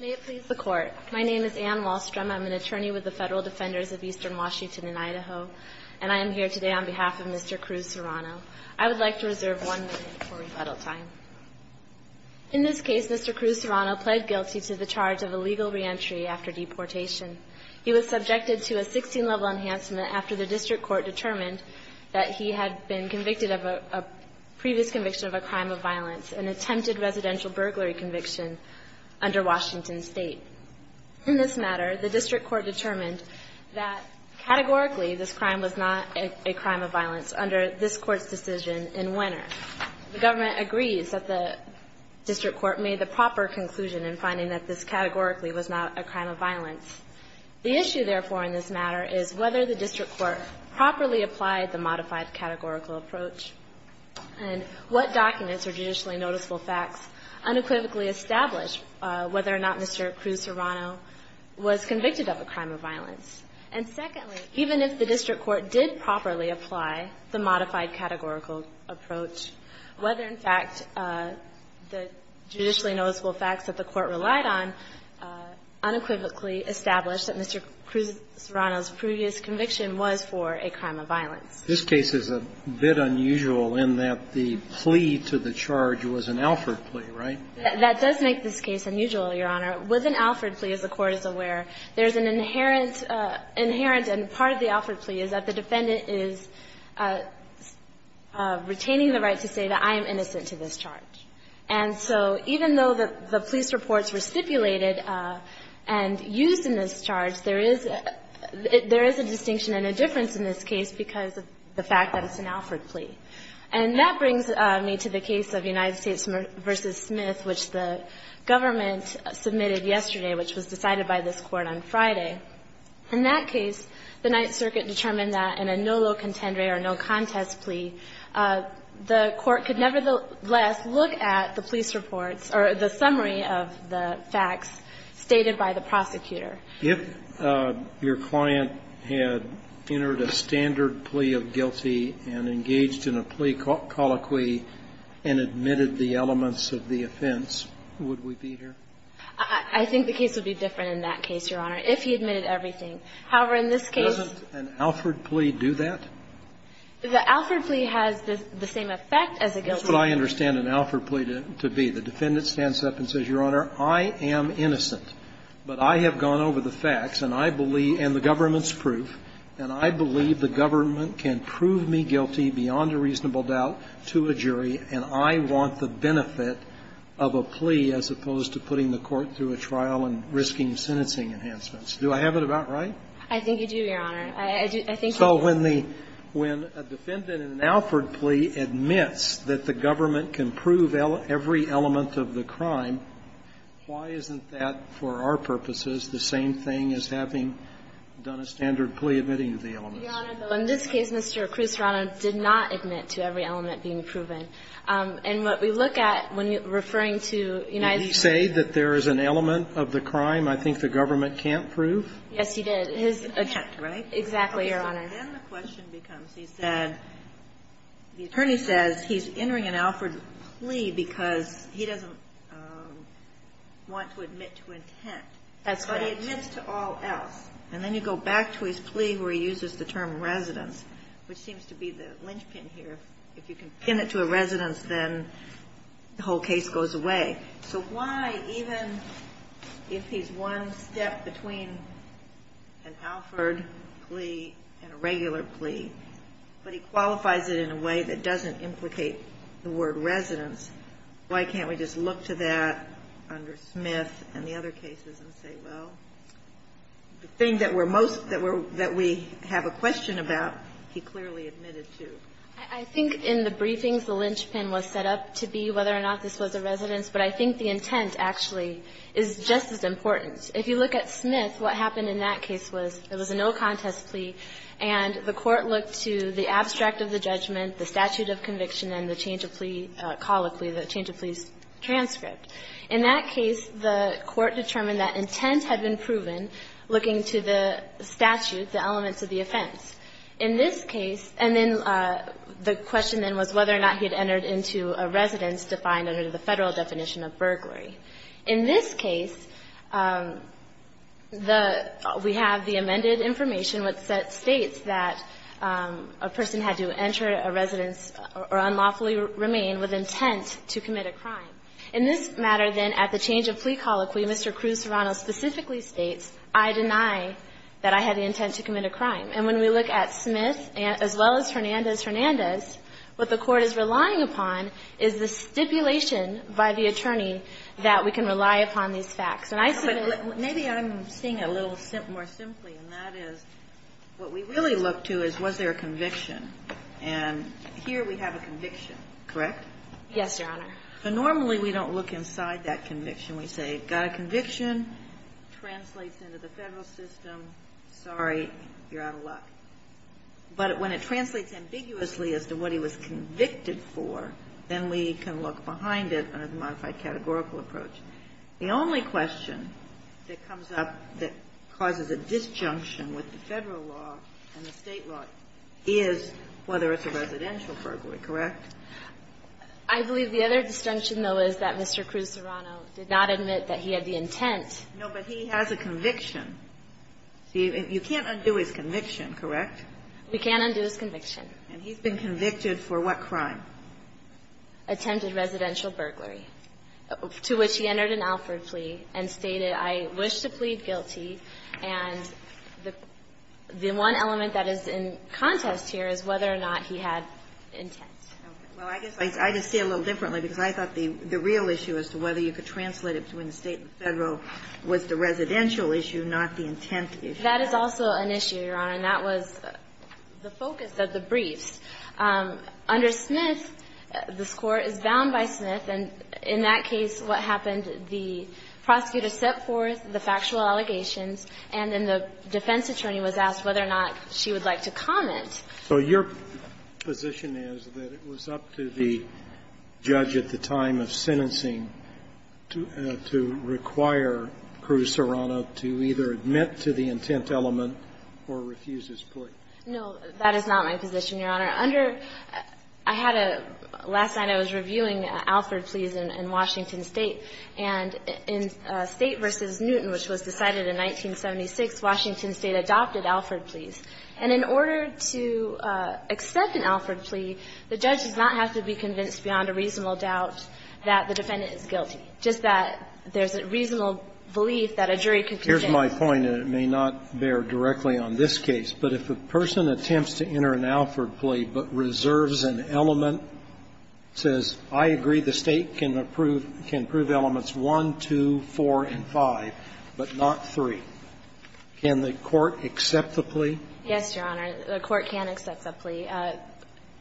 May it please the Court. My name is Anne Wallstrom. I'm an attorney with the Federal Defenders of Eastern Washington and Idaho, and I am here today on behalf of Mr. Cruz-Serrano. I would like to reserve one minute for rebuttal time. In this case, Mr. Cruz-Serrano pled guilty to the charge of illegal reentry after deportation. He was subjected to a 16-level enhancement after the District Court determined that he had been convicted of a previous conviction of a crime of violence, an attempted residential burglary conviction under Washington State. In this matter, the District Court determined that categorically this crime was not a crime of violence under this Court's decision in Wenner. The government agrees that the District Court made the proper conclusion in finding that this categorically was not a crime of violence. The issue, therefore, in this matter is whether the District Court properly applied the modified categorical approach and what documents or judicially noticeable facts unequivocally established whether or not Mr. Cruz-Serrano was convicted of a crime of violence. And secondly, even if the District Court did properly apply the modified categorical approach, whether, in fact, the judicially noticeable facts that the Court relied on unequivocally established that Mr. Cruz-Serrano's previous conviction was for a crime of violence. This case is a bit unusual in that the plea to the charge was an Alford plea, right? That does make this case unusual, Your Honor. With an Alford plea, as the Court is aware, there's an inherent and part of the Alford plea is that the defendant is retaining the right to say that I am innocent to this charge. And so even though the police reports were stipulated and used in this charge, there is a distinction and a difference in this case because of the fact that it's an Alford plea. And that brings me to the case of United States v. Smith, which the government submitted yesterday, which was decided by this Court on Friday. In that case, the Ninth Circuit determined that in a no lo contendere or no contest plea, the Court could nevertheless look at the police reports or the summary of the facts stated by the prosecutor. If your client had entered a standard plea of guilty and engaged in a plea colloquy and admitted the elements of the offense, would we be here? I think the case would be different in that case, Your Honor, if he admitted everything. However, in this case — Doesn't an Alford plea do that? The Alford plea has the same effect as a guilty plea. That's what I understand an Alford plea to be. The defendant stands up and says, Your Honor, I am innocent. But I have gone over the facts, and I believe — and the government's proof, and I believe the government can prove me guilty beyond a reasonable doubt to a jury, and I want the benefit of a plea as opposed to putting the court through a trial and risking sentencing enhancements. Do I have it about right? I think you do, Your Honor. I think you do. So when the — when a defendant in an Alford plea admits that the government can prove every element of the crime, why isn't that, for our purposes, the same thing as having done a standard plea admitting the elements? Your Honor, in this case, Mr. Cruz-Rana did not admit to every element being proven. And what we look at when referring to United States — Did he say that there is an element of the crime I think the government can't prove? Yes, he did. His — He can't, right? Exactly, Your Honor. And then the question becomes, he said — the attorney says he's entering an Alford plea because he doesn't want to admit to intent. That's right. But he admits to all else. And then you go back to his plea where he uses the term residence, which seems to be the linchpin here. If you can pin it to a residence, then the whole case goes away. So why, even if he's one step between an Alford plea and a regular plea, but he qualifies it in a way that doesn't implicate the word residence, why can't we just look to that under Smith and the other cases and say, well, the thing that we're most — that we have a question about, he clearly admitted to? I think in the briefings, the linchpin was set up to be whether or not this was a residence, but I think the intent actually is just as important. If you look at Smith, what happened in that case was it was a no-contest plea, and the Court looked to the abstract of the judgment, the statute of conviction, and the change-of-plea colloquy, the change-of-pleas transcript. In that case, the Court determined that intent had been proven looking to the statute, the elements of the offense. In this case — and then the question then was whether or not he had entered into a residence defined under the Federal definition of burglary. In this case, the — we have the amended information which states that a person had to enter a residence or unlawfully remain with intent to commit a crime. In this matter, then, at the change-of-plea colloquy, Mr. Cruz-Serrano specifically states, I deny that I had the intent to commit a crime. And when we look at Smith as well as Hernandez-Hernandez, what the Court is relying upon is the stipulation by the attorney that we can rely upon these facts. And I see the — But maybe I'm seeing it a little more simply, and that is what we really look to is was there a conviction. And here we have a conviction, correct? Yes, Your Honor. But normally we don't look inside that conviction. We say got a conviction, translates into the Federal system, sorry, you're out of luck. But when it translates ambiguously as to what he was convicted for, then we can look behind it under the modified categorical approach. The only question that comes up that causes a disjunction with the Federal law and the State law is whether it's a residential burglary, correct? I believe the other disjunction, though, is that Mr. Cruz-Serrano did not admit that he had the intent. No, but he has a conviction. You can't undo his conviction, correct? We can't undo his conviction. And he's been convicted for what crime? Attempted residential burglary, to which he entered an Alford plea and stated, I wish to plead guilty. And the one element that is in contest here is whether or not he had intent. Well, I guess I just see it a little differently because I thought the real issue as to whether you could translate it between the State and the Federal was the residential issue, not the intent issue. That is also an issue, Your Honor, and that was the focus of the briefs. Under Smith, this Court is bound by Smith. And in that case, what happened, the prosecutor set forth the factual allegations and then the defense attorney was asked whether or not she would like to comment. So your position is that it was up to the judge at the time of sentencing to require Cruz-Serrano to either admit to the intent element or refuse his plea? No, that is not my position, Your Honor. Under — I had a — last night I was reviewing Alford pleas in Washington State, and in State v. Newton, which was decided in 1976, Washington State adopted the Alford pleas. And in order to accept an Alford plea, the judge does not have to be convinced beyond a reasonable doubt that the defendant is guilty, just that there's a reasonable belief that a jury could consent. Here's my point, and it may not bear directly on this case, but if a person attempts to enter an Alford plea but reserves an element, says, I agree the State can approve elements 1, 2, 4, and 5, but not 3, can the court accept the plea? Yes, Your Honor. The court can accept the plea.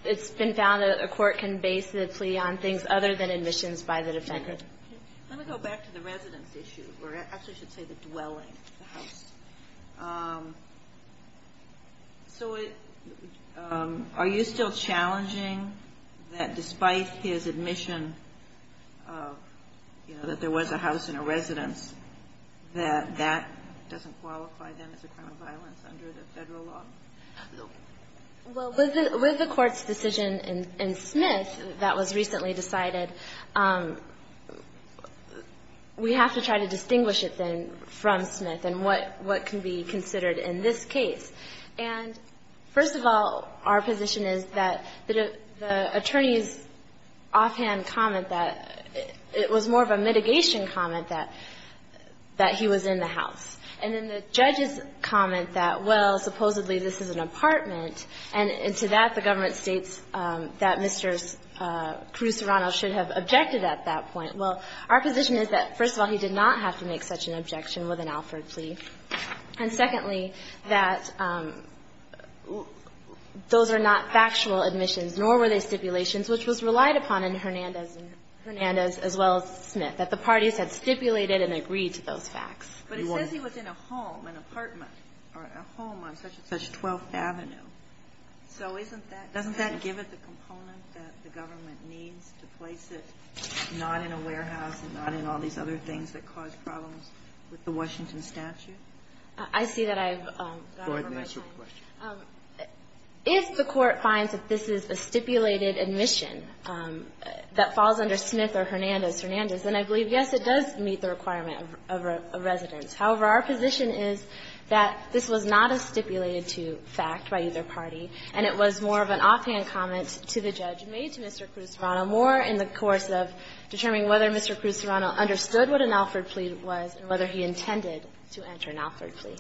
It's been found that a court can base the plea on things other than admissions by the defendant. Let me go back to the residence issue, or I actually should say the dwelling, the house. You know, that there was a house in a residence, that that doesn't qualify then as a crime of violence under the Federal law? No. Well, with the Court's decision in Smith that was recently decided, we have to try to distinguish it then from Smith and what can be considered in this case. And first of all, our position is that the attorney's offhand comment that it's not an Alford plea, it was more of a mitigation comment that he was in the house. And then the judge's comment that, well, supposedly this is an apartment, and to that the government states that Mr. Cruz-Serrano should have objected at that point. Well, our position is that, first of all, he did not have to make such an objection with an Alford plea. And secondly, that those are not factual admissions, nor were they stipulations, which was relied upon in Hernandez and as well as Smith, that the parties had stipulated and agreed to those facts. But it says he was in a home, an apartment, or a home on such and such 12th Avenue. So isn't that doesn't that give it the component that the government needs to place it, not in a warehouse and not in all these other things that cause problems with the Washington statute? I see that I've gone over my time. If the court finds that this is a stipulated admission that falls under Smith or Hernandez, Hernandez, then I believe, yes, it does meet the requirement of a residence. However, our position is that this was not a stipulated fact by either party, and it was more of an offhand comment to the judge made to Mr. Cruz-Serrano more in the course of determining whether Mr. Cruz-Serrano understood what an Alford plea was and whether he intended to enter an Alford plea.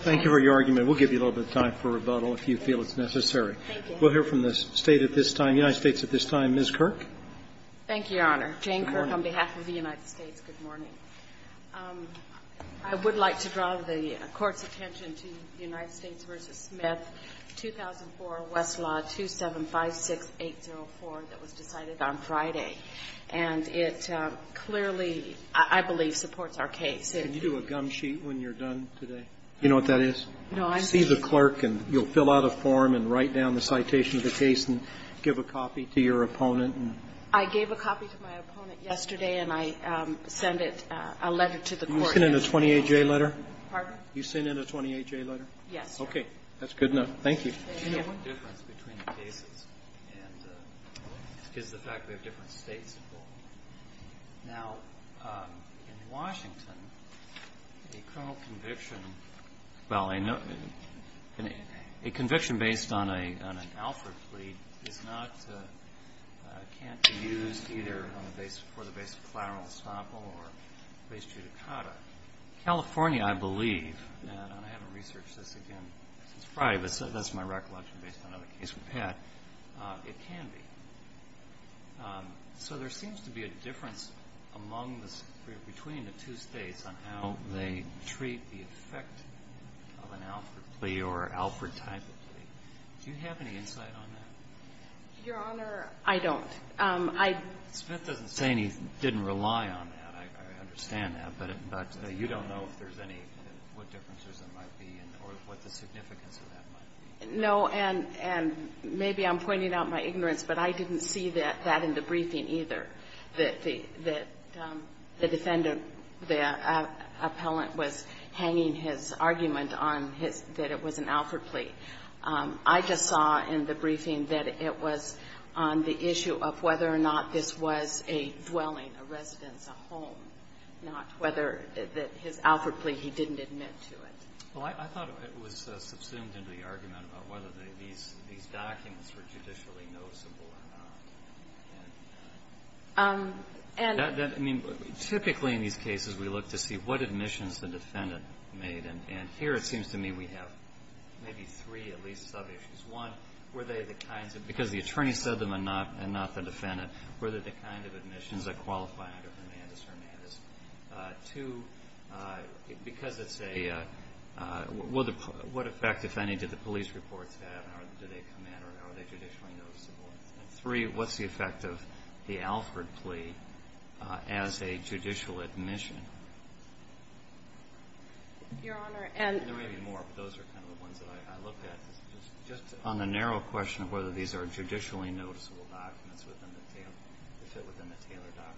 Thank you for your argument. We'll give you a little bit of time for rebuttal if you feel it's necessary. Thank you. We'll hear from the State at this time, the United States at this time. Ms. Kirk. Thank you, Your Honor. Jane Kirk on behalf of the United States. Good morning. I would like to draw the Court's attention to the United States v. Smith, 2004, Westlaw 2756804 that was decided on Friday. And it clearly, I believe, supports our case. Can you do a gum sheet when you're done today? You know what that is? No, I'm sorry. See the clerk, and you'll fill out a form and write down the citation of the case and give a copy to your opponent. I gave a copy to my opponent yesterday, and I sent it, a letter to the Court. You sent in a 28-J letter? Pardon? You sent in a 28-J letter? Yes. That's good enough. Thank you. Do you know what the difference between the cases is the fact that we have different states involved? Now, in Washington, a criminal conviction, well, a conviction based on an Alfred plea can't be used either for the base of collateral estoppel or base judicata. California, I believe, and I haven't researched this again since Friday, but that's my recollection based on other cases we've had, it can be. So there seems to be a difference between the two states on how they treat the effect of an Alfred plea or Alfred type of plea. Do you have any insight on that? Your Honor, I don't. I don't. Smith doesn't say he didn't rely on that. I understand that. But you don't know if there's any, what differences there might be or what the significance of that might be? No. And maybe I'm pointing out my ignorance, but I didn't see that in the briefing either, that the defendant, the appellant was hanging his argument on his, that it was an Alfred plea. I just saw in the briefing that it was on the issue of whether or not this was a dwelling, a residence, a home, not whether his Alfred plea, he didn't admit to it. Well, I thought it was subsumed into the argument about whether these documents were judicially noticeable or not. And that, I mean, typically in these cases, we look to see what admissions the defendant made. And here it seems to me we have maybe three at least sub-issues. One, were they the kinds of, because the attorney said them and not the defendant, were they the kind of admissions that qualify under Hermandis-Hermandis? Two, because it's a, what effect, if any, did the police reports have and do they come in or are they judicially noticeable? And three, what's the effect of the Alfred plea as a judicial admission? Your Honor, and. There may be more, but those are kind of the ones that I looked at. Just on the narrow question of whether these are judicially noticeable documents within the Taylor document.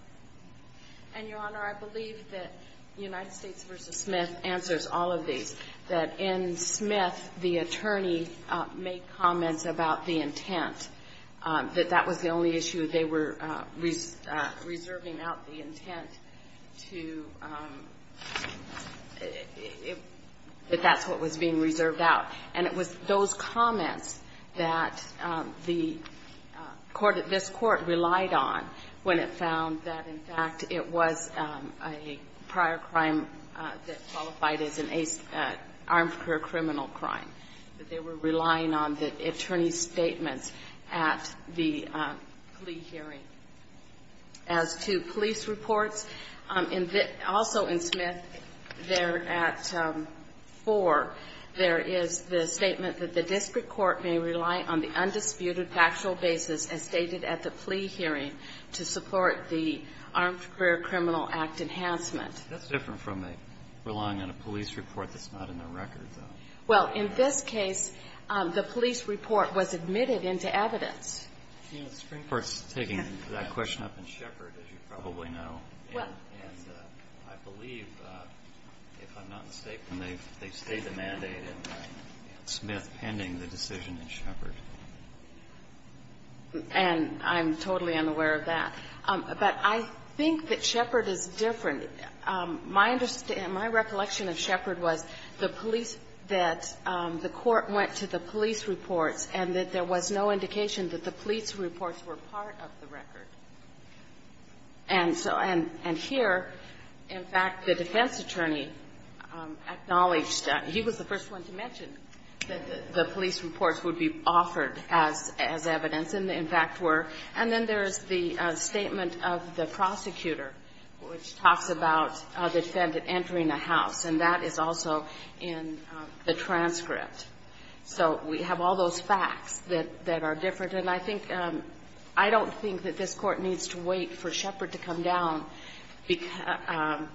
And, Your Honor, I believe that United States v. Smith answers all of these, that in Smith, the attorney made comments about the intent, that that was the only issue. They were reserving out the intent to, that that's what was being reserved out. And it was those comments that the court, this court relied on when it found that, in fact, it was a prior crime that qualified as an armed career criminal crime. That they were relying on the attorney's statements at the plea hearing. As to police reports, also in Smith, there at four, there is the statement that the district court may rely on the undisputed factual basis as stated at the plea hearing to support the Armed Career Criminal Act enhancement. That's different from relying on a police report that's not in the record, though. Well, in this case, the police report was admitted into evidence. The Supreme Court's taking that question up in Shepard, as you probably know. And I believe, if I'm not mistaken, they've stated a mandate in Smith pending the decision in Shepard. And I'm totally unaware of that. But I think that Shepard is different. My recollection of Shepard was the police, that the court went to the police reports and that there was no indication that the police reports were part of the record. And so, and here, in fact, the defense attorney acknowledged, he was the first one to mention that the police reports would be offered as evidence and, in fact, were. And then there's the statement of the prosecutor, which talks about a defendant entering a house. And that is also in the transcript. So we have all those facts that are different. And I think, I don't think that this Court needs to wait for Shepard to come down because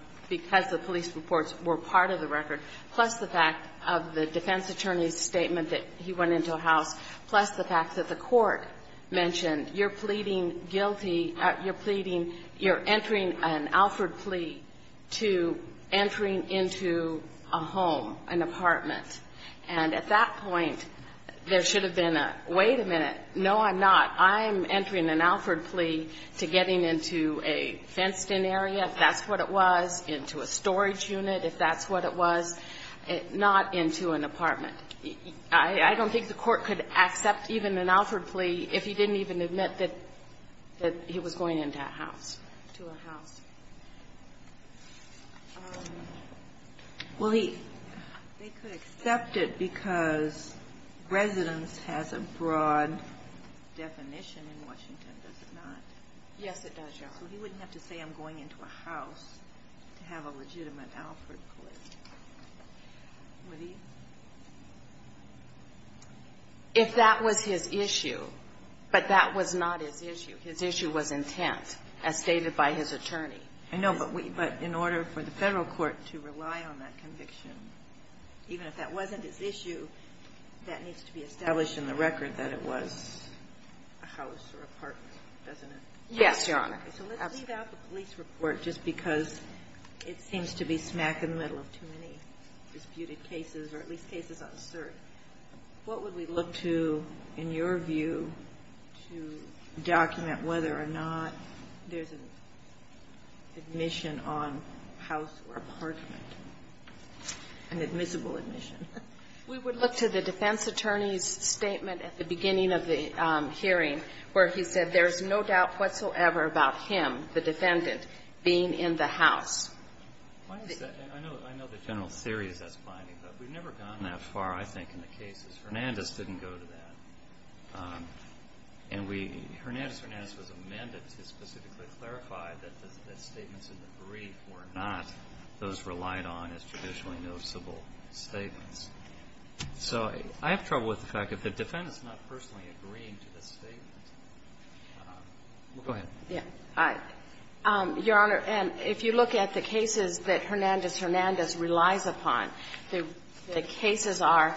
the police reports were part of the record, plus the fact of the defense attorney's statement that he went into a house, plus the fact that the court mentioned you're pleading guilty, you're pleading, you're entering an Alford plea to entering into a home, an apartment. And at that point, there should have been a, wait a minute, no, I'm not. I'm entering an Alford plea to getting into a fenced-in area, if that's what it was, into a storage unit, if that's what it was, not into an apartment. I don't think the Court could accept even an Alford plea if he didn't even admit that he was going into a house. To a house. Well, he could accept it because residence has a broad definition in Washington, does it not? Yes, it does, Your Honor. So he wouldn't have to say I'm going into a house to have a legitimate Alford plea, would he? If that was his issue, but that was not his issue. His issue was intent, as stated by his attorney. I know. But in order for the Federal court to rely on that conviction, even if that wasn't his issue, that needs to be established in the record that it was a house or apartment, doesn't it? Yes, Your Honor. So let's leave out the police report just because it seems to be smack in the middle of too many disputed cases, or at least cases on cert. What would we look to, in your view, to document whether or not there's an admission on house or apartment, an admissible admission? We would look to the defense attorney's statement at the beginning of the hearing where he said there's no doubt whatsoever about him, the defendant, being in the house. Why is that? I know the general theory is that's binding, but we've never gone that far, I think, in the cases. Hernandez didn't go to that. And we – Hernandez was amended to specifically clarify that the statements in the brief were not those relied on as traditionally noticeable statements. So I have trouble with the fact if the defendant's not personally agreeing to the statement. Go ahead. Yes. Hi. Your Honor, if you look at the cases that Hernandez-Hernandez relies upon, the cases are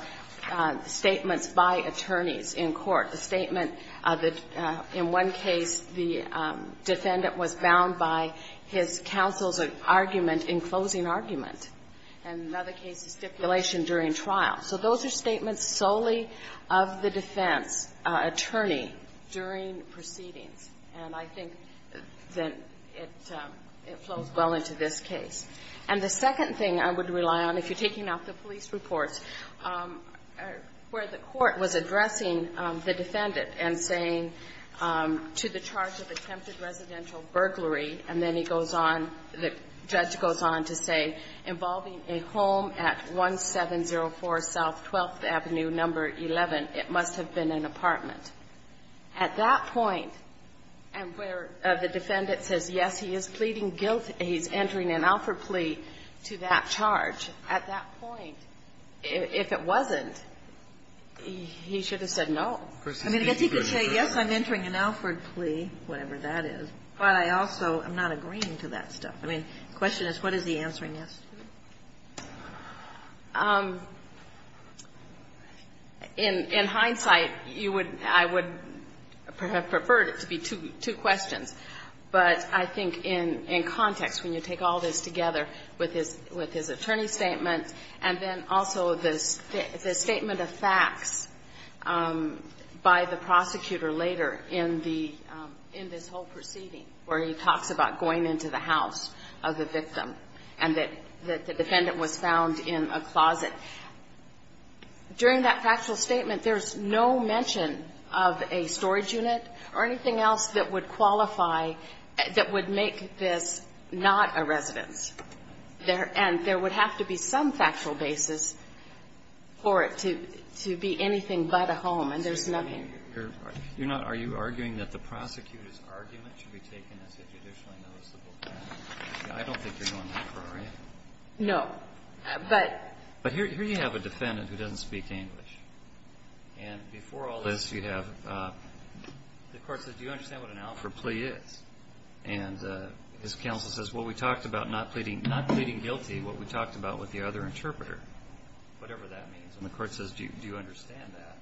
statements by attorneys in court. The statement that in one case the defendant was bound by his counsel's argument in closing argument. And in another case, stipulation during trial. So those are statements solely of the defense attorney during proceedings. And I think that it flows well into this case. And the second thing I would rely on, if you're taking out the police reports, where the court was addressing the defendant and saying to the charge of attempted residential burglary, and then he goes on, the judge goes on to say involving a home at 1704 South 12th Avenue, number 11, it must have been an apartment. At that point, and where the defendant says, yes, he is pleading guilty, he's entering an Alford plea to that charge, at that point, if it wasn't, he should have said no. I mean, I guess he could say, yes, I'm entering an Alford plea, whatever that is. But I also am not agreeing to that stuff. I mean, the question is, what is he answering yes to? In hindsight, I would have preferred it to be two questions. But I think in context, when you take all this together with his attorney's statement, and then also the statement of facts by the prosecutor later in this whole proceeding, where he talks about going into the house of the victim, and that the defendant was found in a closet, during that factual statement, there's no mention of a storage unit or anything else that would qualify, that would make this not a residence. And there would have to be some factual basis for it to be anything but a home, and there's nothing. I mean, you're not, are you arguing that the prosecutor's argument should be taken as a judicially noticeable fact? I don't think you're going that far, right? No. But. But here you have a defendant who doesn't speak English. And before all this, you have, the court says, do you understand what an Alford plea is? And his counsel says, well, we talked about not pleading, not pleading guilty, what we talked about with the other interpreter, whatever that means. And the court says, do you understand that?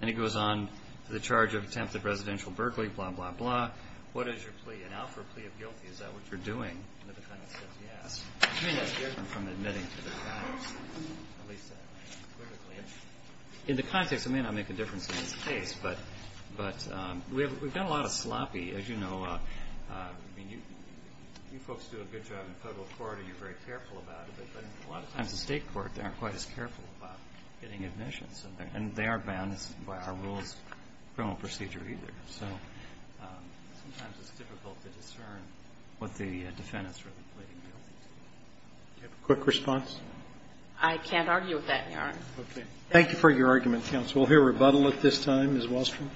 And he goes on to the charge of attempted residential burglary, blah, blah, blah. What is your plea? An Alford plea of guilty, is that what you're doing? And the defendant says, yes. I mean, that's different from admitting to the facts, at least, politically. In the context, it may not make a difference in this case, but we've done a lot of sloppy, as you know. I mean, you folks do a good job in federal court, and you're very careful about it, but a lot of times in state court, they aren't quite as careful about getting recognition, and they are bound by our rules of criminal procedure either. So sometimes it's difficult to discern what the defendant's really pleading guilty to. Roberts. Do you have a quick response? I can't argue with that, Your Honor. Okay. Thank you for your argument, counsel. We'll hear rebuttal at this time. Ms. Wahlstrom.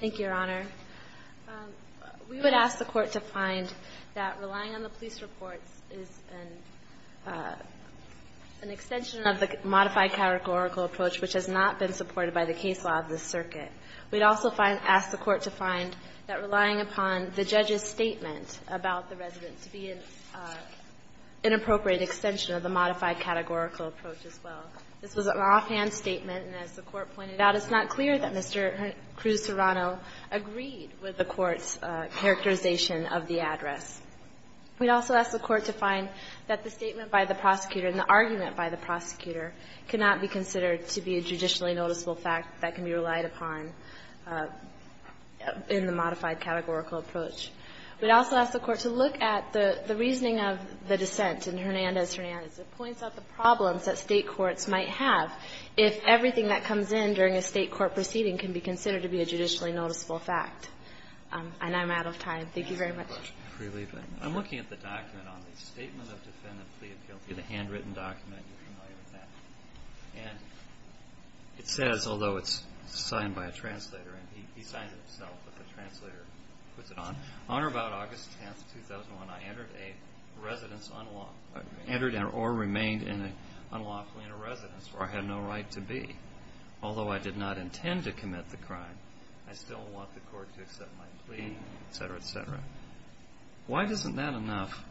Thank you, Your Honor. We would ask the Court to find that relying on the police reports is an extension of the modified categorical approach, which has not been supported by the case law of this circuit. We'd also ask the Court to find that relying upon the judge's statement about the resident to be an inappropriate extension of the modified categorical approach as well. This was an offhand statement, and as the Court pointed out, it's not clear that Mr. Cruz-Serrano agreed with the Court's characterization of the address. We'd also ask the Court to find that the statement by the prosecutor and the argument by the prosecutor cannot be considered to be a judicially noticeable fact that can be relied upon in the modified categorical approach. We'd also ask the Court to look at the reasoning of the dissent in Hernandez-Hernandez. It points out the problems that state courts might have if everything that comes in during a state court proceeding can be considered to be a judicially noticeable fact. And I'm out of time. Thank you very much. I'm looking at the document on the Statement of Defendant Plea of Guilty, the handwritten document. You're familiar with that. And it says, although it's signed by a translator, and he signs it himself, but the translator puts it on, on or about August 10th, 2001, I entered a residence unlawful or remained unlawfully in a residence where I had no right to be. Although I did not intend to commit the crime, I still want the Court to accept my plea, et cetera, et cetera. Why isn't that enough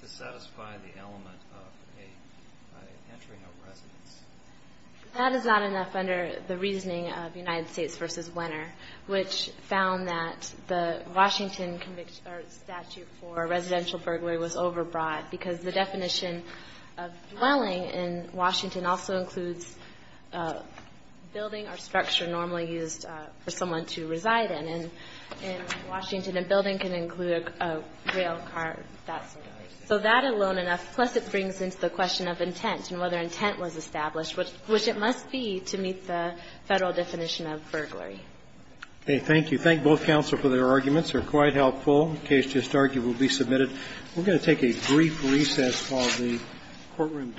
to satisfy the element of an entry in a residence? That is not enough under the reasoning of United States v. Wenner, which found that the Washington statute for residential burglary was overbrought because the definition of dwelling in Washington also includes building or structure normally used for someone to reside in. And in Washington, a building can include a rail car, that sort of thing. So that alone enough, plus it brings into the question of intent and whether intent was established, which it must be to meet the Federal definition of burglary. Okay. Thank you. Thank both counsel for their arguments. They're quite helpful. The case just argued will be submitted. We're going to take a brief recess. Call the courtroom.